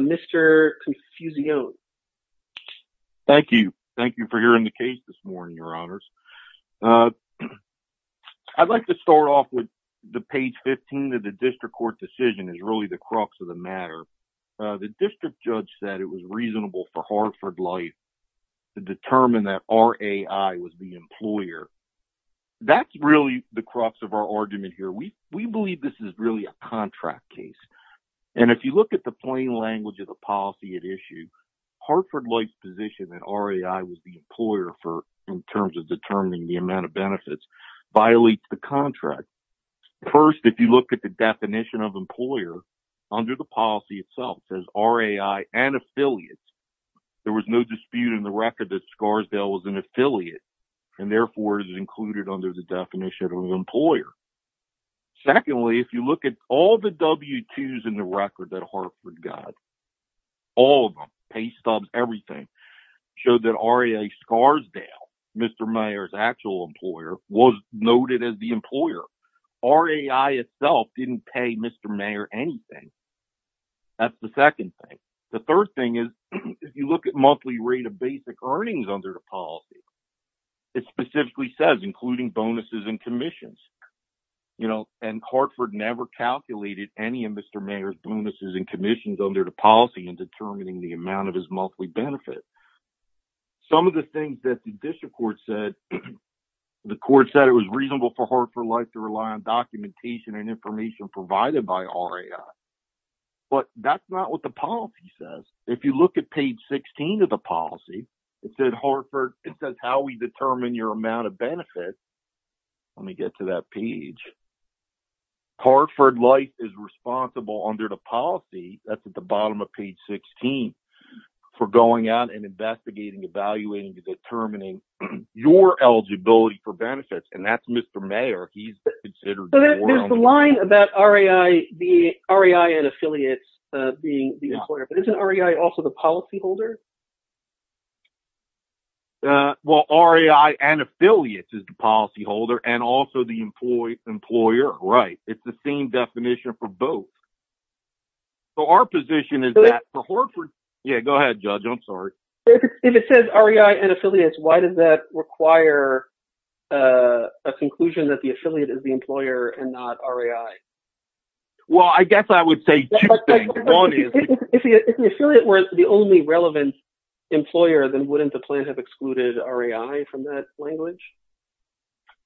Mr. Confucione Thank you. Thank you for hearing the case this morning, your honors. I'd like to start off with the page 15 of the district court decision is really the crux of the matter. The district judge said it was reasonable for Hartford Life to determine that RAI was the employer. That's really the crux of our argument here. We believe this is really a contract case. And if you look at the plain language of the policy at issue, Hartford Life's position that RAI was the employer in terms of determining the amount of benefits violates the contract. First, if you look at the definition of employer under the policy itself, it says RAI and affiliate and therefore is included under the definition of employer. Secondly, if you look at all the W-2s in the record that Hartford got, all of them, pay stubs, everything showed that RAI Scarsdale, Mr. Mayer's actual employer was noted as the employer. RAI itself didn't pay Mr. Mayer anything. That's the second thing. The third thing is if you look at monthly rate of basic earnings under the policy, it specifically says including bonuses and commissions, you know, and Hartford never calculated any of Mr. Mayer's bonuses and commissions under the policy in determining the amount of his monthly benefits. Some of the things that the district court said, the court said it was reasonable for Hartford Life to rely on documentation and information provided by RAI, but that's not what the policy says. If you look at page 16 of the policy, it says Hartford, it says how we determine your amount of benefits. Let me get to that page. Hartford Life is responsible under the policy, that's at the bottom of page 16, for going out and investigating, evaluating, determining your eligibility for benefits, and that's Mr. Mayer. He's considered... There's a line about RAI and affiliates being the employer, but isn't RAI also the policyholder? Well, RAI and affiliates is the policyholder and also the employer. Right. It's the same definition for both. So, our position is that for Hartford... Yeah, go ahead, Judge. I'm sorry. If it says RAI and affiliates, why does that require a conclusion that the affiliate is employer and not RAI? Well, I guess I would say two things. One is... If the affiliate was the only relevant employer, then wouldn't the plan have excluded RAI from that language?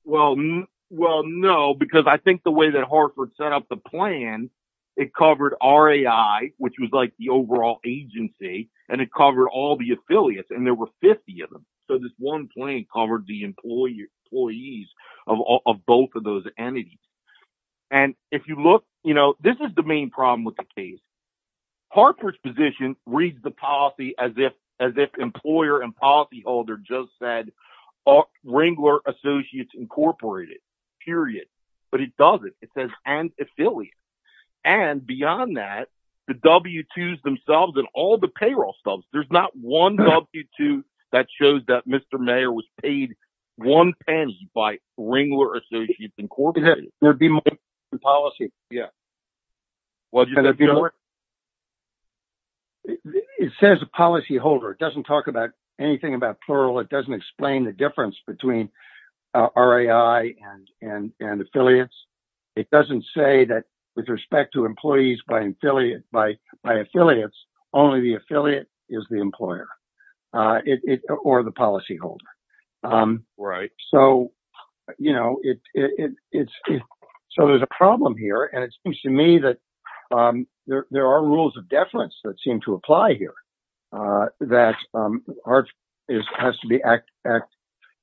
Well, no, because I think the way that Hartford set up the plan, it covered RAI, which was like the overall agency, and it covered all the affiliates, and there were 50 of them. So, this one plan covered the employees of both of those entities. And if you look... This is the main problem with the case. Hartford's position reads the policy as if employer and policyholder just said Wrangler Associates Incorporated, period, but it doesn't. It says and affiliates. And beyond that, the W-2s themselves and all the payroll subs, there's not one W-2 that shows that Mr. Mayor was paid one pence by Wrangler Associates Incorporated. There'd be more than policy. Yeah. It says policyholder. It doesn't talk about anything about plural. It doesn't explain the difference between RAI and affiliates. It doesn't say that with respect to employees by affiliates, only the affiliate is the employer or the policyholder. Right. So, there's a problem here, and it seems to me that there are rules of deference that seem to apply here, that Hartford has to act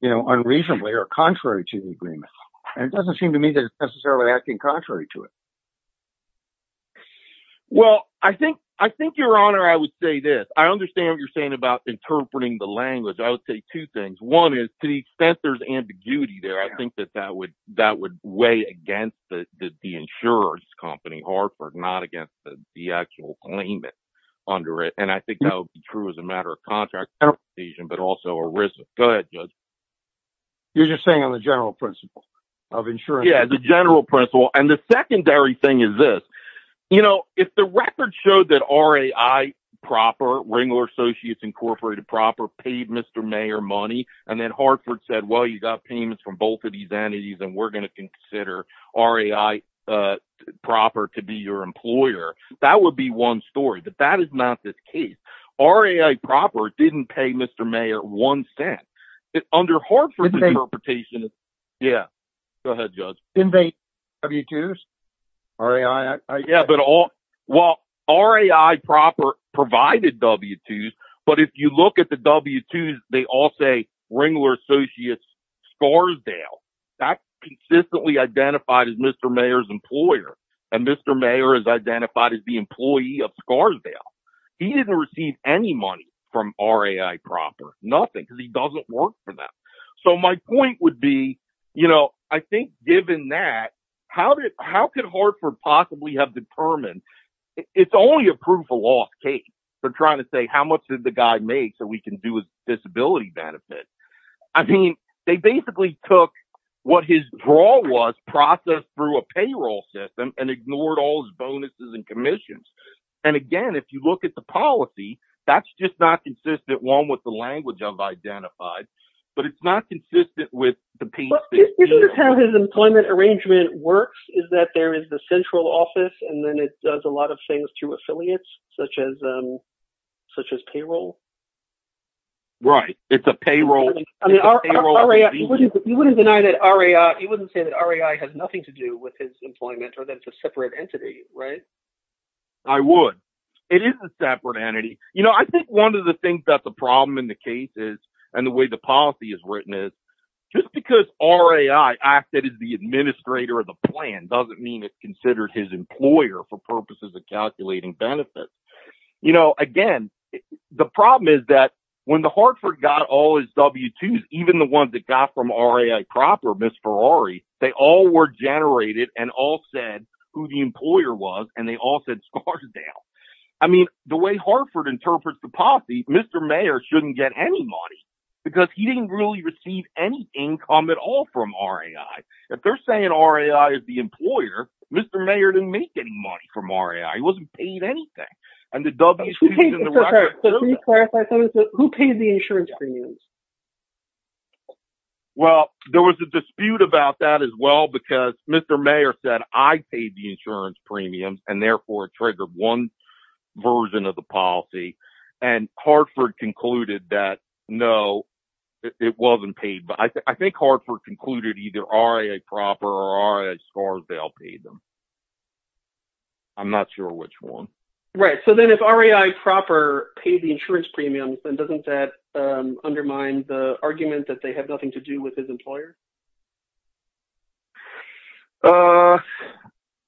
unreasonably or contrary to the agreement. And it doesn't seem to me that it's necessarily acting contrary to it. Well, I think, Your Honor, I would say this. I understand what you're saying about interpreting the language. I would say two things. One is, to the extent there's ambiguity there, I think that that would weigh against the insurance company, Hartford, not against the actual claimant under it. And I think that would be true as a matter of contract decision, but also a risk. Go ahead, Judge. You're just saying on the general principle of insurance? Yeah, the general principle. And the secondary thing is this. You know, if the record showed that RAI Proper, Ringler Associates Incorporated Proper, paid Mr. Mayer money, and then Hartford said, well, you got payments from both of these entities, and we're going to consider RAI Proper to be your employer, that would be one story. But that is not the case. RAI Proper didn't pay Mr. Mayer one cent. Under Hartford's interpretation, well, RAI Proper provided W-2s. But if you look at the W-2s, they all say Ringler Associates Scarsdale. That's consistently identified as Mr. Mayer's employer. And Mr. Mayer is employee of Scarsdale. He didn't receive any money from RAI Proper, nothing, because he doesn't work for them. So my point would be, you know, I think given that, how could Hartford possibly have determined? It's only a proof of loss case. They're trying to say how much did the guy make so we can do a disability benefit. I mean, they basically took what his draw was, processed through a payroll system, and ignored all his bonuses and commissions. And again, if you look at the policy, that's just not consistent one with the language I've identified, but it's not consistent with the piece. This is how his employment arrangement works, is that there is the central office, and then it does a lot of things through affiliates, such as payroll. Right, it's a payroll. You wouldn't say that RAI has nothing to do with his employment, or that it's a separate entity, right? I would. It is a separate entity. You know, I think one of the things that the problem in the case is, and the way the policy is written is, just because RAI acted as the administrator of the plan, doesn't mean it's considered his employer for purposes of calculating benefits. You know, again, the problem is that when the Hartford got all his W-2s, even the ones that got from RAI proper, Miss Ferrari, they all were generated and all said who the employer was, and they all said Scarsdale. I mean, the way Hartford interprets the policy, Mr. Mayor shouldn't get any money, because he didn't really receive any income at all from RAI. If they're saying RAI is the employer, Mr. Mayor didn't make any money from RAI. He wasn't paid anything. Who paid the insurance premiums? Well, there was a dispute about that as well, because Mr. Mayor said, I paid the insurance premiums, and therefore triggered one version of the policy, and Hartford concluded that, no, it wasn't paid. I think Hartford concluded either RAI proper or Scarsdale. I'm not sure which one. Right. So then if RAI proper paid the insurance premiums, then doesn't that undermine the argument that they have nothing to do with his employer?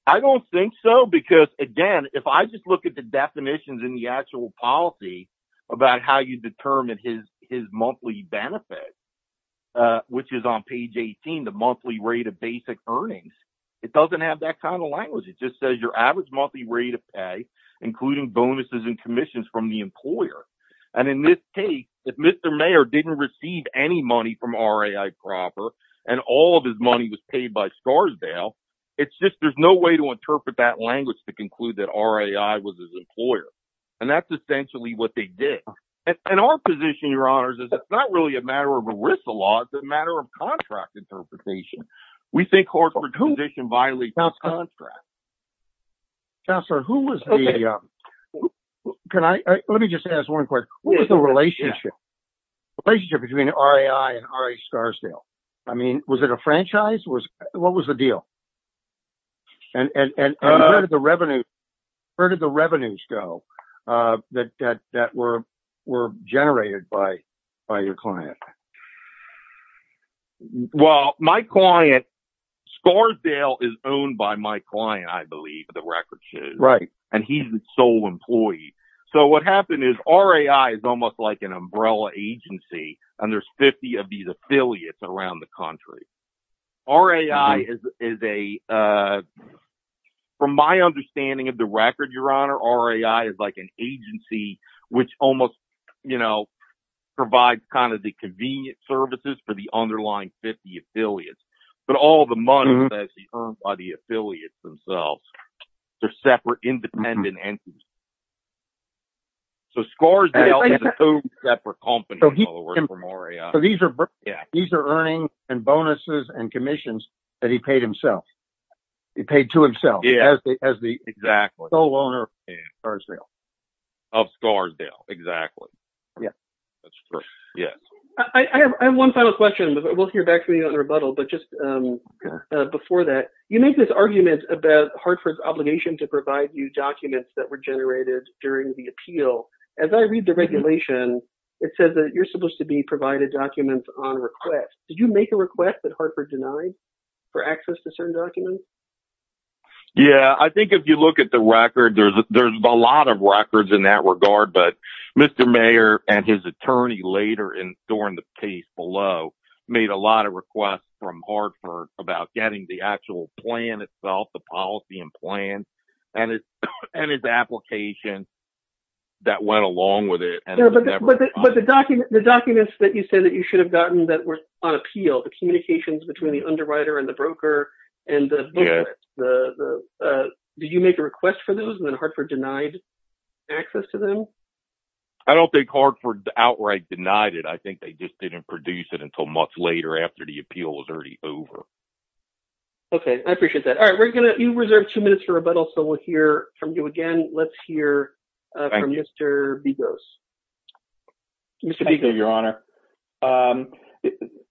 I don't think so, because again, if I just look at the definitions in the actual policy about how you determine his monthly benefit, which is on page 18, the monthly rate of basic earnings, it doesn't have that kind of language. It just says your average monthly rate of pay, including bonuses and commissions from the employer. And in this case, if Mr. Mayor didn't receive any money from RAI proper, and all of his money was paid by Scarsdale, it's just, there's no way to interpret that language to conclude that RAI was his employer. And that's essentially what they did. And our position, Your Honors, is it's not really a violation of contract. Counselor, who was the, can I, let me just ask one question. What was the relationship, the relationship between RAI and RAI Scarsdale? I mean, was it a franchise? What was the deal? And where did the revenue, where did the revenues go that were generated by your client? Well, my client, Scarsdale is owned by my client, I believe, the record shows. Right. And he's the sole employee. So what happened is RAI is almost like an umbrella agency, and there's 50 of these affiliates around the country. RAI is a, from my understanding of the services for the underlying 50 affiliates, but all the money that's earned by the affiliates themselves, they're separate independent entities. So Scarsdale is a two separate company. So these are, these are earnings and bonuses and commissions that he paid himself. He paid to himself as the sole owner of Scarsdale. Of Scarsdale, exactly. Yeah, that's true. Yeah. I have one final question, but we'll hear back from you on the rebuttal, but just before that, you made this argument about Hartford's obligation to provide you documents that were generated during the appeal. As I read the regulation, it says that you're supposed to be provided documents on request. Did you make a request that Hartford denied for access to certain documents? Yeah, I think if you look at the records in that regard, but Mr. Mayor and his attorney later in, during the case below, made a lot of requests from Hartford about getting the actual plan itself, the policy and plans, and his application that went along with it. But the documents that you said that you should have gotten that were on appeal, the communications between the underwriter and the broker, the, did you make a request for those and then Hartford denied access to them? I don't think Hartford outright denied it. I think they just didn't produce it until months later after the appeal was already over. Okay. I appreciate that. All right. We're going to, you reserved two minutes for rebuttal, so we'll hear from you again. Let's hear from Mr. Digos. Mr. Digos. Thank you, Your Honor.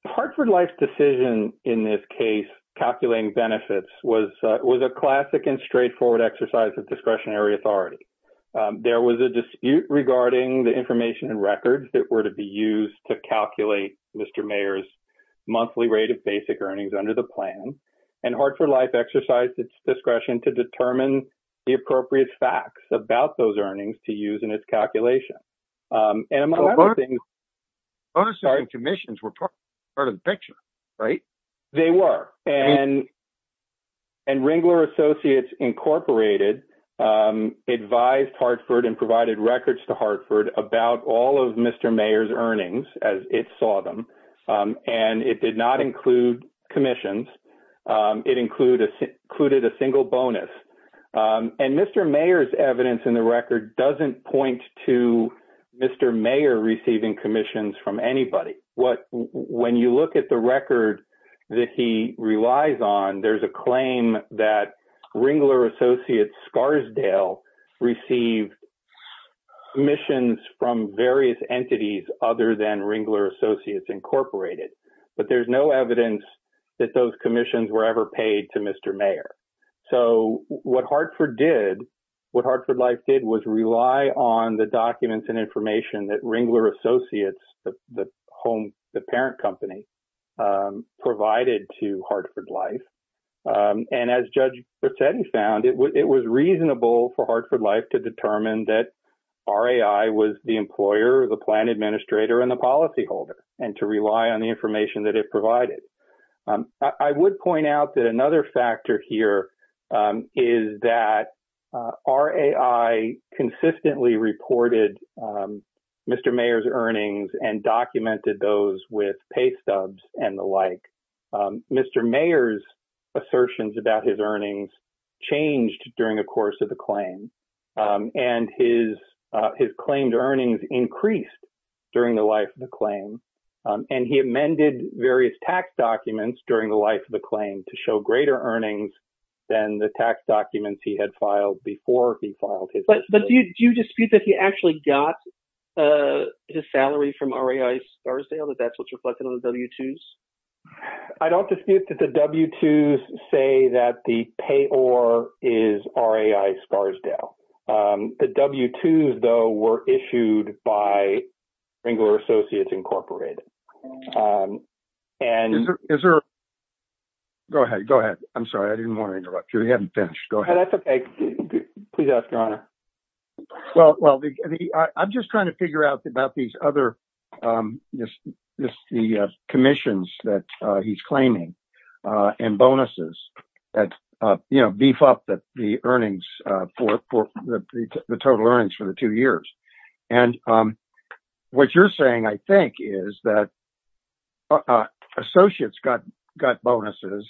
Hartford Life's decision in this case, calculating benefits, was a classic and straightforward exercise of discretionary authority. There was a dispute regarding the information and records that were to be used to calculate Mr. Mayor's monthly rate of basic earnings under the plan, and Hartford Life exercised its discretion to determine the appropriate facts about those earnings to use in its calculation. And among other things, Bonus and commissions were part of the picture, right? They were. And Ringler Associates Incorporated advised Hartford and provided records to Hartford about all of Mr. Mayor's earnings as it saw them. And it did not include commissions. It included a single bonus. And Mr. Mayor's evidence in the record doesn't point to Mr. Mayor receiving commissions from anybody. When you look at the record that he relies on, there's a claim that Ringler Associates Scarsdale received commissions from various entities other than Ringler Associates Incorporated. But there's no evidence that those commissions were ever paid to Mr. Mayor. So what Hartford did, what Hartford Life did was rely on the documents and information that Ringler Associates, the parent company, provided to Hartford Life. And as Judge Bracetti found, it was reasonable for Hartford Life to determine that was the employer, the plan administrator, and the policyholder and to rely on the information that it provided. I would point out that another factor here is that RAI consistently reported Mr. Mayor's earnings and documented those with pay stubs and the like. Mr. Mayor's assertions about his earnings changed during the course of the claim. And his claimed earnings increased during the life of the claim. And he amended various tax documents during the life of the claim to show greater earnings than the tax documents he had filed before he filed his. But do you dispute that he actually got his salary from RAI Scarsdale, that that's what's reflected on the W-2s? I don't dispute that the W-2s say that the payor is RAI Scarsdale. The W-2s, though, were issued by Ringler Associates, Incorporated. Go ahead. Go ahead. I'm sorry. I didn't want to interrupt you. We haven't finished. Go ahead. That's okay. Please ask your honor. Well, I'm just trying to figure out about these other commissions that he's claiming and bonuses that beef up the earnings for the total earnings for the two years. And what you're saying, I think, is that Associates got bonuses,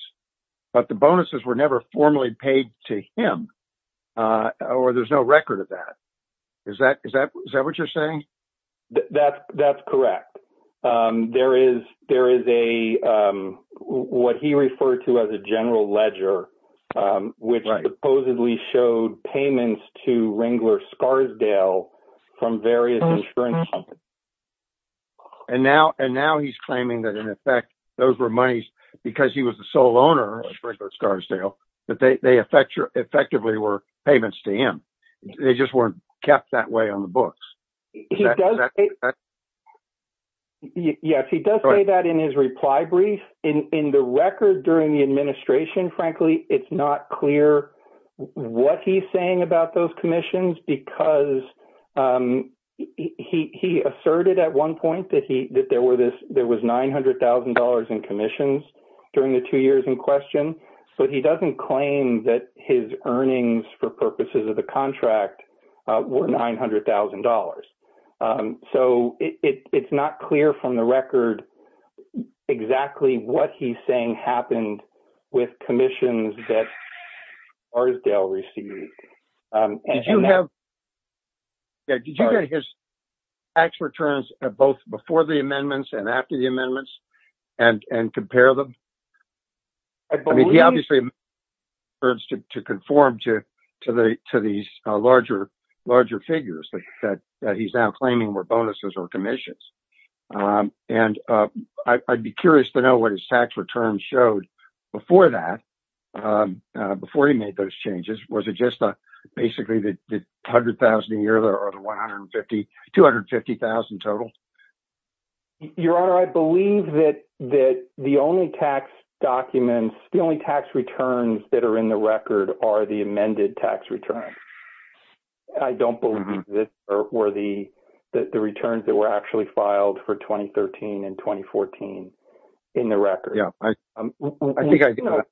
but the bonuses were formally paid to him, or there's no record of that. Is that what you're saying? That's correct. There is what he referred to as a general ledger, which supposedly showed payments to Ringler Scarsdale from various insurance companies. And now he's claiming that, in effect, those were monies because he was the sole owner of that. They effectively were payments to him. They just weren't kept that way on the books. Yes, he does say that in his reply brief. In the record during the administration, frankly, it's not clear what he's saying about those commissions because he asserted at one point that there was $900,000 in commissions during the two years in question, but he doesn't claim that his earnings for purposes of the contract were $900,000. So it's not clear from the record exactly what he's saying happened with commissions that Scarsdale received. Did you have his tax returns both before the commission? I mean, he obviously has to conform to these larger figures that he's now claiming were bonuses or commissions. And I'd be curious to know what his tax returns showed before that, before he made those changes. Was it just basically the $100,000 a year or the $250,000 total? Your Honor, I believe that the only tax documents, the only tax returns that are in the record are the amended tax returns. I don't believe that were the returns that were actually filed for 2013 and 2014 in the record. For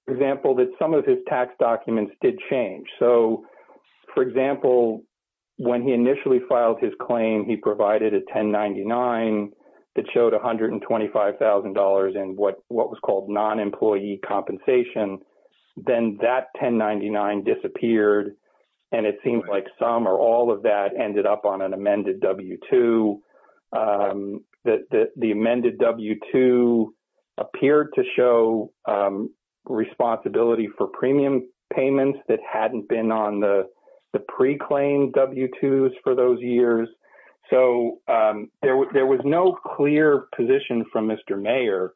example, that some of his tax documents did change. So, for example, when he initially filed his claim, he provided a 1099 that showed $125,000 in what was called non-employee compensation. Then that 1099 disappeared, and it seems like some or all of that ended up on an amended W-2. The amended W-2 appeared to show responsibility for premium payments that hadn't been on the pre-claimed W-2s for those years. So, there was no clear position from Mr. Mayer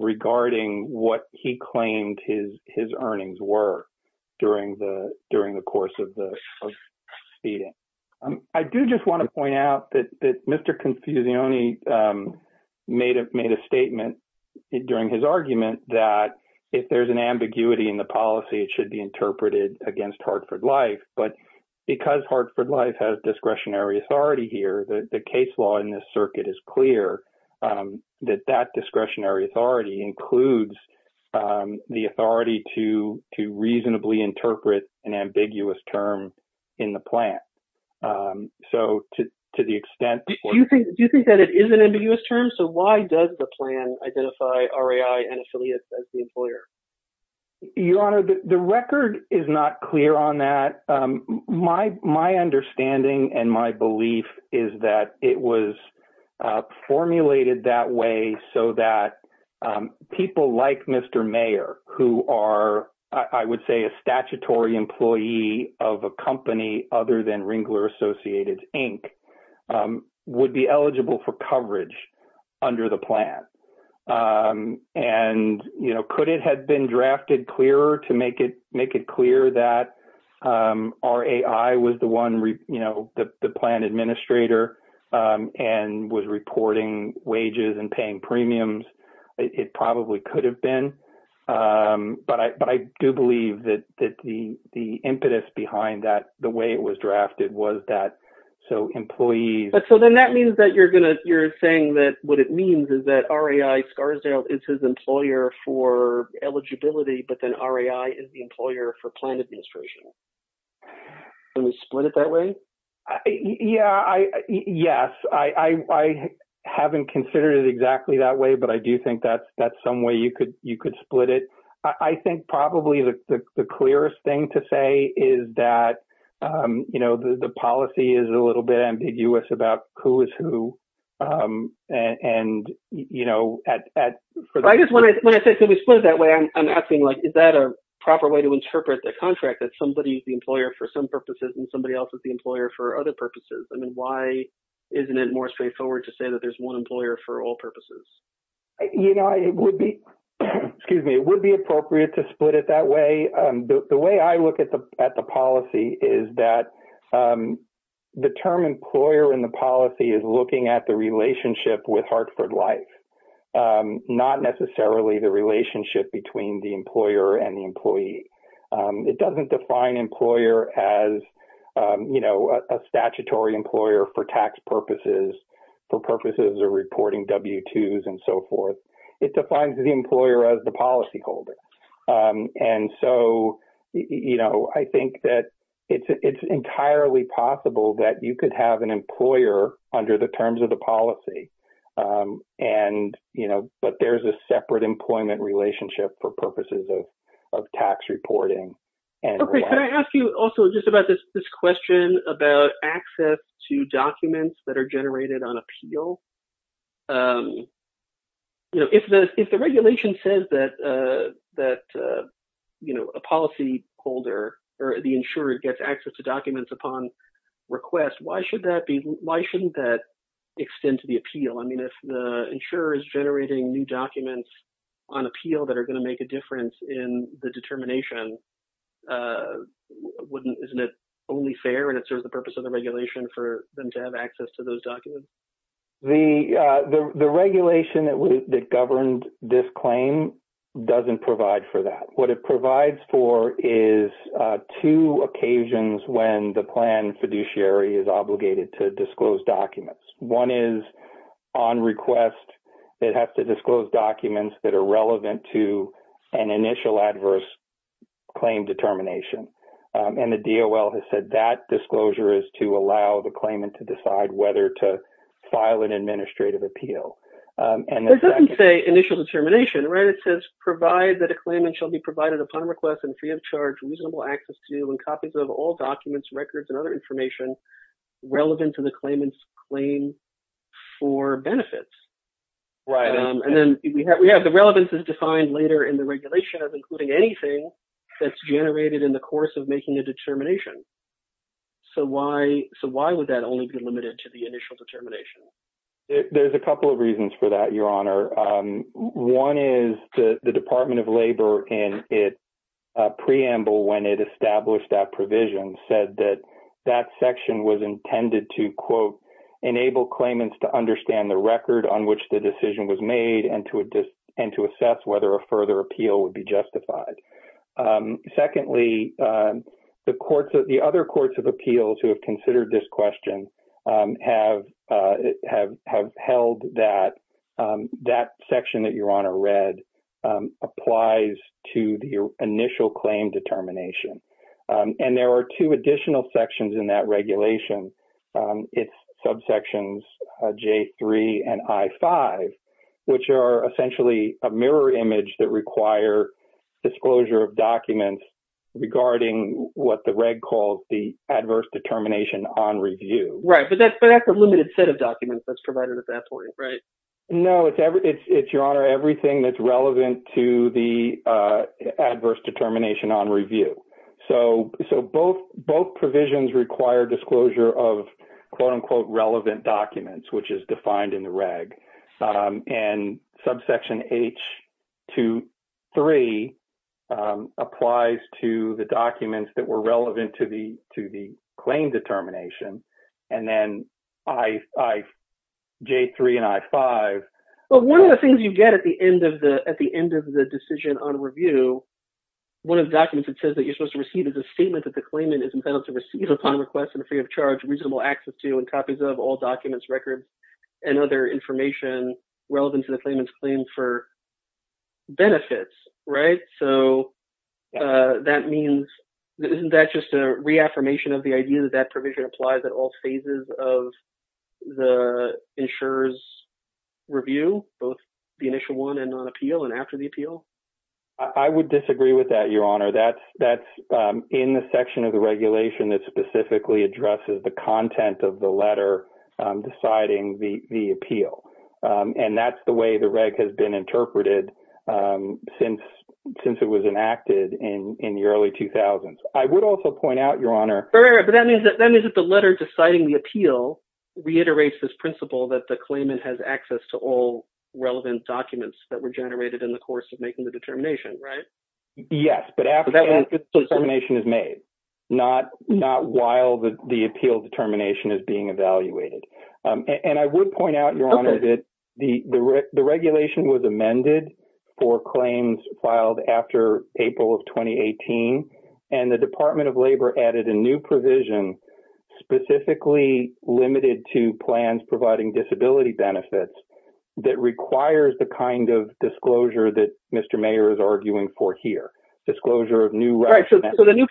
regarding what he claimed his earnings were during the course of the speeding. I do just want to point out that Mr. Confusione made a statement during his argument that if there's an ambiguity in the policy, it should be interpreted against Hartford Life. But because Hartford Life has discretionary authority here, the case law in this circuit is clear that that discretionary authority includes the authority to reasonably interpret an ambiguous term in the plan. So, to the extent... Do you think that it is an ambiguous term? So, why does the plan identify RAI and affiliates as the employer? Your Honor, the record is not clear on that. My understanding and my belief is that it was formulated that way so that people like Mr. Mayer, who are, I would say, a statutory employee of a company other than Ringler Associated, Inc., would be eligible for coverage under the plan. Could it have been drafted clearer to make it clear that RAI was the plan administrator and was reporting wages and paying premiums? It probably could have been. But I do believe that the impetus behind that, the way it was drafted, was that... So, employees... So, then that means that you're saying that what it means is that RAI, Scarsdale, is his employer for eligibility, but then RAI is the employer for plan administration. Can we split it that way? Yeah. Yes. I haven't considered it exactly that way, but I do think that's some way you could split it. I think probably the clearest thing to say is that the policy is a little bit ambiguous about who is who. I just want to say, can we split it that way? I'm asking, is that a proper way to interpret the contract that somebody is the employer for some purposes and somebody else is the employer for other purposes? I mean, why isn't it more straightforward to say that there's one It would be appropriate to split it that way. The way I look at the policy is that the term employer in the policy is looking at the relationship with Hartford Life, not necessarily the relationship between the employer and the employee. It doesn't define employer as a statutory employer for tax purposes, for purposes of reporting W-2s and so forth. It defines the employer as the policy holder. I think that it's entirely possible that you could have an employer under the terms of the policy, but there's a separate employment relationship for purposes of tax reporting. Okay. Can I ask you also just about this question about access to documents that are generated on appeal? If the regulation says that a policy holder or the insurer gets access to documents upon request, why shouldn't that extend to the appeal? I mean, if the insurer is generating new documents on appeal that are going to make a difference in the determination, wouldn't, isn't it only fair and it serves the purpose of the regulation for them to have access to those documents? The regulation that governed this claim doesn't provide for that. What it provides for is two occasions when the plan fiduciary is obligated to disclose documents. One is on request, it has to disclose documents that are relevant to an initial adverse claim determination. The DOL has said that disclosure is to allow the claimant to decide whether to file an administrative appeal. It doesn't say initial determination, right? It says, provide that a claimant shall be provided upon request and free of charge reasonable access to and copies of all documents, records, and other information relevant to the claimant's claim for benefits. Right. Then we have the relevance is defined later in the regulation of including anything that's generated in the course of making a determination. So why would that only be limited to the initial determination? There's a couple of reasons for that, Your Honor. One is the Department of Labor in its preamble when it established that provision said that that section was intended to, quote, on which the decision was made and to assess whether a further appeal would be justified. Secondly, the other courts of appeals who have considered this question have held that that section that Your Honor read applies to the initial claim determination. And there are two additional sections in that regulation. It's subsections J3 and I5, which are essentially a mirror image that require disclosure of documents regarding what the reg calls the adverse determination on review. Right. But that's a limited set of documents that's provided at that point, right? No. It's, Your Honor, everything that's relevant to the So both provisions require disclosure of, quote, unquote, relevant documents, which is defined in the reg. And subsection H23 applies to the documents that were relevant to the claim determination. And then I, J3 and I5. But one of the things you get at the end of the decision on review, one of the documents that says that you're supposed to receive is a statement that the claimant is entitled to receive upon request and free of charge reasonable access to and copies of all documents, records, and other information relevant to the claimant's claim for benefits, right? So that means, isn't that just a reaffirmation of the idea that that provision applies at all phases of the insurer's review, both the initial one and on appeal and after the appeal? I would disagree with that, Your Honor. That's in the section of the regulation that specifically addresses the content of the letter deciding the appeal. And that's the way the reg has been interpreted since it was enacted in the early 2000s. I would also point out, Your Honor. But that means that the letter deciding the appeal reiterates this principle that the claimant has access to all relevant documents that were generated in the course of making the determination, right? Yes. But after the determination is made, not while the appeal determination is being evaluated. And I would point out, Your Honor, that the regulation was amended for claims filed after April of 2018. And the Department of Labor added a new provision specifically limited to plans providing disability benefits that requires the kind of disclosure that Mr. Mayor is arguing for here. Disclosure of new... Right. So the new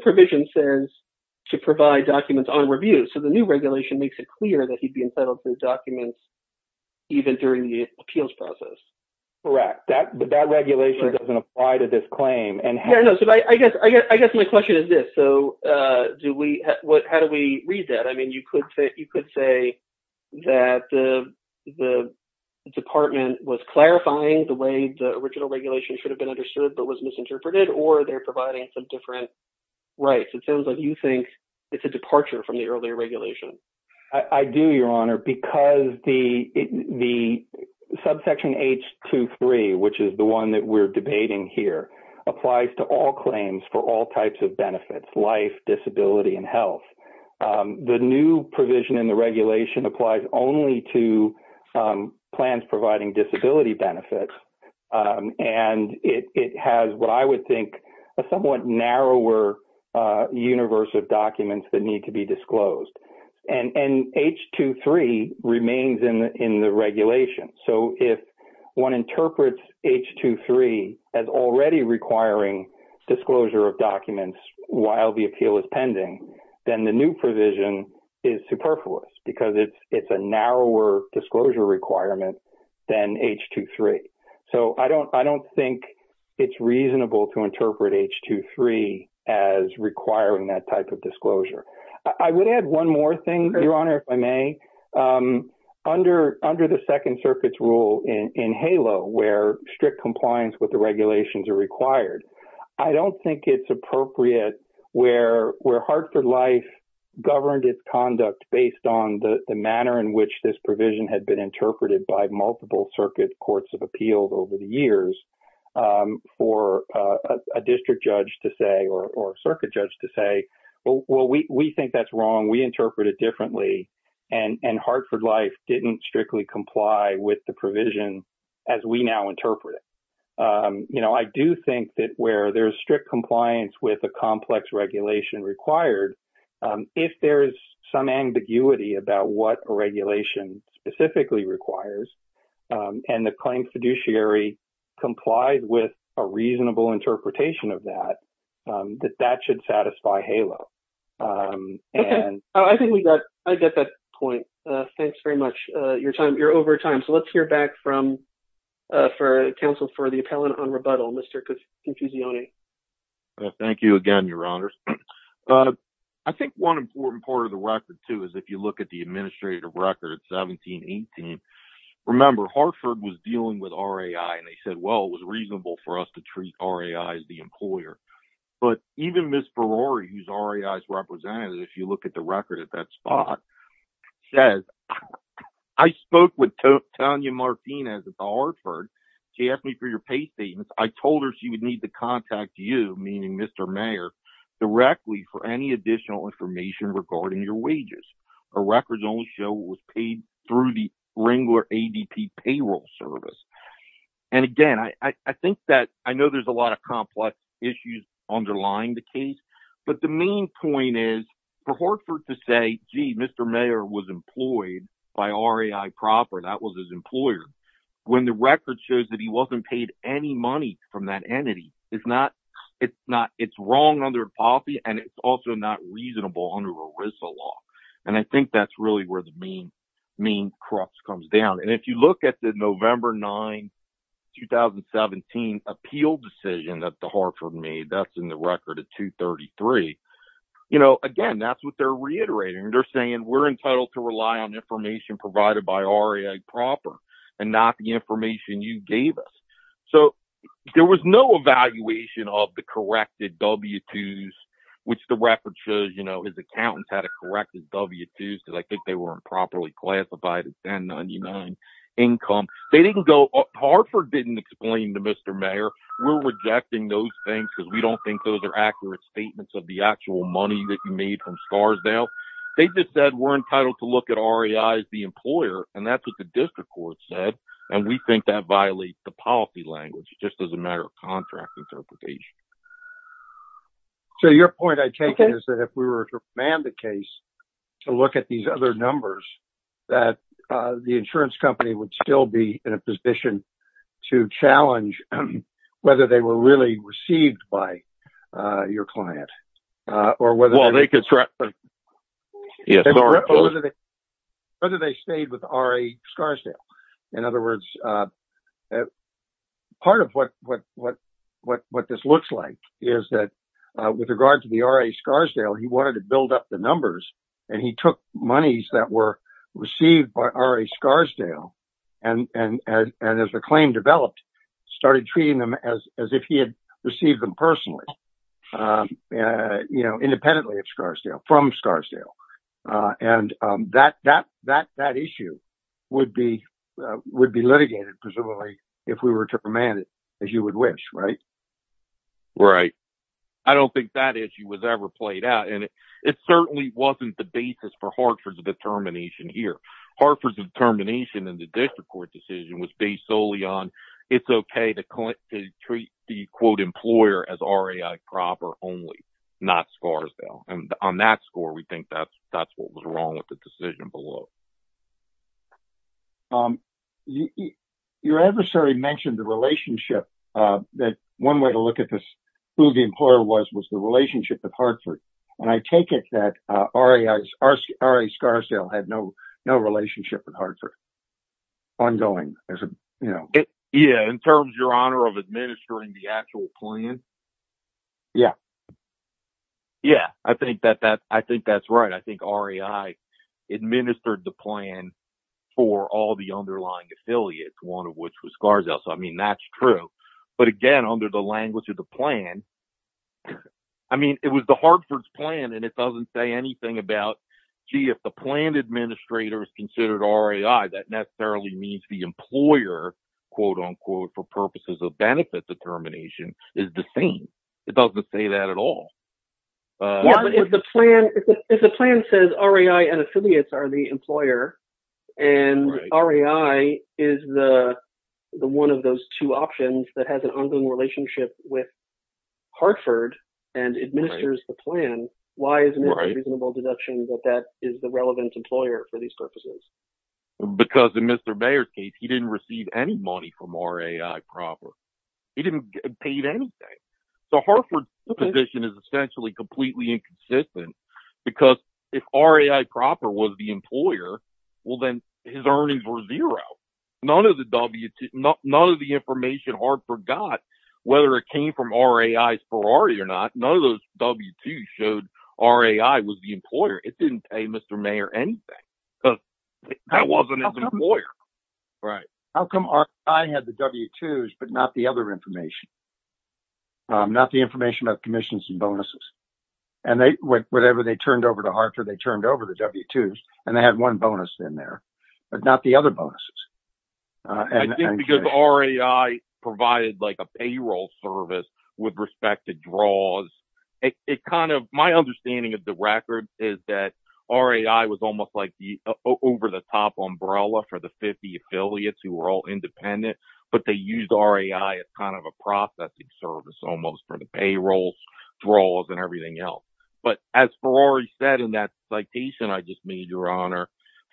provision says to provide documents on review. So the new regulation makes it clear that he'd be entitled to the documents even during the appeals process. Correct. But that regulation doesn't apply to this claim. I guess my question is this. So how do we read that? I mean, you could say that the department was clarifying the way the original regulation should have been understood, but was misinterpreted, or they're providing some different rights. It sounds like you think it's a departure from the earlier regulation. I do, Your Honor, because the subsection H23, which is the one that we're debating here, applies to all claims for all types of benefits, life, disability, and health. The new provision in the regulation applies only to plans providing disability benefits. And it has what I would think a somewhat narrower universe of documents that H23 as already requiring disclosure of documents while the appeal is pending, then the new provision is superfluous because it's a narrower disclosure requirement than H23. So I don't think it's reasonable to interpret H23 as requiring that type of disclosure. I would add one more thing, Your Honor, if I may. Under the Second Circuit's rule in HALO, where strict compliance with the regulations are required, I don't think it's appropriate where Hartford Life governed its conduct based on the manner in which this provision had been interpreted by multiple circuit courts of appeals over the years for a district judge to say or a circuit judge to say, well, we think that's wrong. We interpret it differently. And Hartford Life didn't strictly comply with the provision as we now interpret it. You know, I do think that where there's strict compliance with a complex regulation required, if there is some ambiguity about what a regulation specifically requires, and the claim fiduciary complied with a reasonable interpretation of that, that that should satisfy HALO. Okay. I think we got, I get that point. Thanks very much. You're time, you're over time. So let's hear back from, for counsel for the appellant on rebuttal, Mr. Confusione. Thank you again, Your Honor. I think one important part of the record too, is if you look at the administrative record at 1718, remember Hartford was dealing with RAI and they said, well, it was reasonable for us to treat RAI as the employer. But even Ms. Berori, who's RAI's representative, if you look at the record at that spot, says, I spoke with Tanya Martinez at the Hartford. She asked me for your pay statements. I told her she would need to contact you, meaning Mr. Mayor, directly for any additional information regarding your wages. Her records only show what was paid through the Wrangler ADP payroll service. And again, I think that, I know there's a lot of complex issues underlying the gee, Mr. Mayor was employed by RAI proper. That was his employer. When the record shows that he wasn't paid any money from that entity, it's wrong under the policy and it's also not reasonable under ERISA law. And I think that's really where the main crux comes down. And if you look at the November 9, 2017 appeal decision that the Hartford made, that's in the record at 233, you know, again, that's what they're reiterating. They're saying we're entitled to rely on information provided by RAI proper and not the information you gave us. So there was no evaluation of the corrected W-2s, which the record shows, you know, his accountants had to correct his W-2s because I think they weren't properly classified as 1099 income. They didn't go, Hartford didn't explain to Mr. Mayor, we're rejecting those things because we don't think those are accurate statements of the actual money that you made from Scarsdale. They just said, we're entitled to look at RAI as the employer. And that's what the district court said. And we think that violates the policy language just as a matter of contract interpretation. So your point I take is that if we were to ban the case to look at these other numbers, that the insurance company would still be in a position to challenge whether they were really received by your client or whether they stayed with RA Scarsdale. In other words, part of what this looks like is that with regard to the RA Scarsdale, he wanted to build up the numbers and he took monies that were received by RA and as the claim developed, started treating them as if he had received them personally, independently of Scarsdale, from Scarsdale. And that issue would be litigated, presumably, if we were to ban it, as you would wish, right? Right. I don't think that issue was ever played out and it certainly wasn't the basis for Hartford's determination here. Hartford's determination in the district court decision was based solely on it's okay to treat the quote employer as RAI proper only, not Scarsdale. And on that score, we think that's what was wrong with the decision below. Your adversary mentioned the relationship that one way to look at this, who the employer was, was the relationship with Hartford. And I take it that RA Scarsdale had no relationship with Hartford. Ongoing. Yeah, in terms, your honor, of administering the actual plan. Yeah. Yeah, I think that's right. I think RAI administered the plan for all the underlying affiliates, one of which was Scarsdale. So, I mean, that's true. But again, under the language of the plan, I mean, it was the Hartford's plan and it doesn't say anything about, gee, the plan administrator is considered RAI. That necessarily means the employer, quote unquote, for purposes of benefit determination is the same. It doesn't say that at all. If the plan says RAI and affiliates are the employer, and RAI is the one of those two options that has an ongoing relationship with Hartford and administers the plan, why isn't it a reasonable deduction that that is the relevant employer for these purposes? Because in Mr. Bayer's case, he didn't receive any money from RAI proper. He didn't get paid anything. So Hartford's position is essentially completely inconsistent because if RAI proper was the employer, well, then his earnings were zero. None of the W2, none of the information Hartford got, whether it came from RAI's Ferrari or not, none of those showed RAI was the employer. It didn't pay Mr. Mayer anything. That wasn't his employer. How come RAI had the W2s but not the other information? Not the information about commissions and bonuses. And whatever they turned over to Hartford, they turned over the W2s and they had one bonus in there, but not the other bonuses. I think because RAI provided like a payroll service with respect to draws, it kind of, my understanding of the record is that RAI was almost like the over the top umbrella for the 50 affiliates who were all independent, but they used RAI as kind of a processing service almost for the payrolls, draws and everything else. But as Ferrari said in that citation, I just made your honor,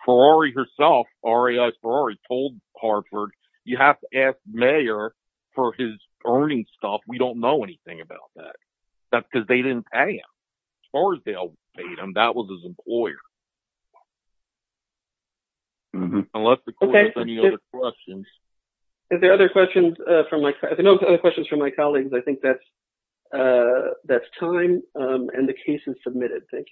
Ferrari herself, RAI's Ferrari told Hartford, you have to ask Mayer for his earning stuff. We don't know anything about that. That's because they didn't pay him. As far as they'll pay him, that was his employer. Unless the court has any other questions. Is there other questions from my colleagues? I think that's time and the case is submitted. Thank you.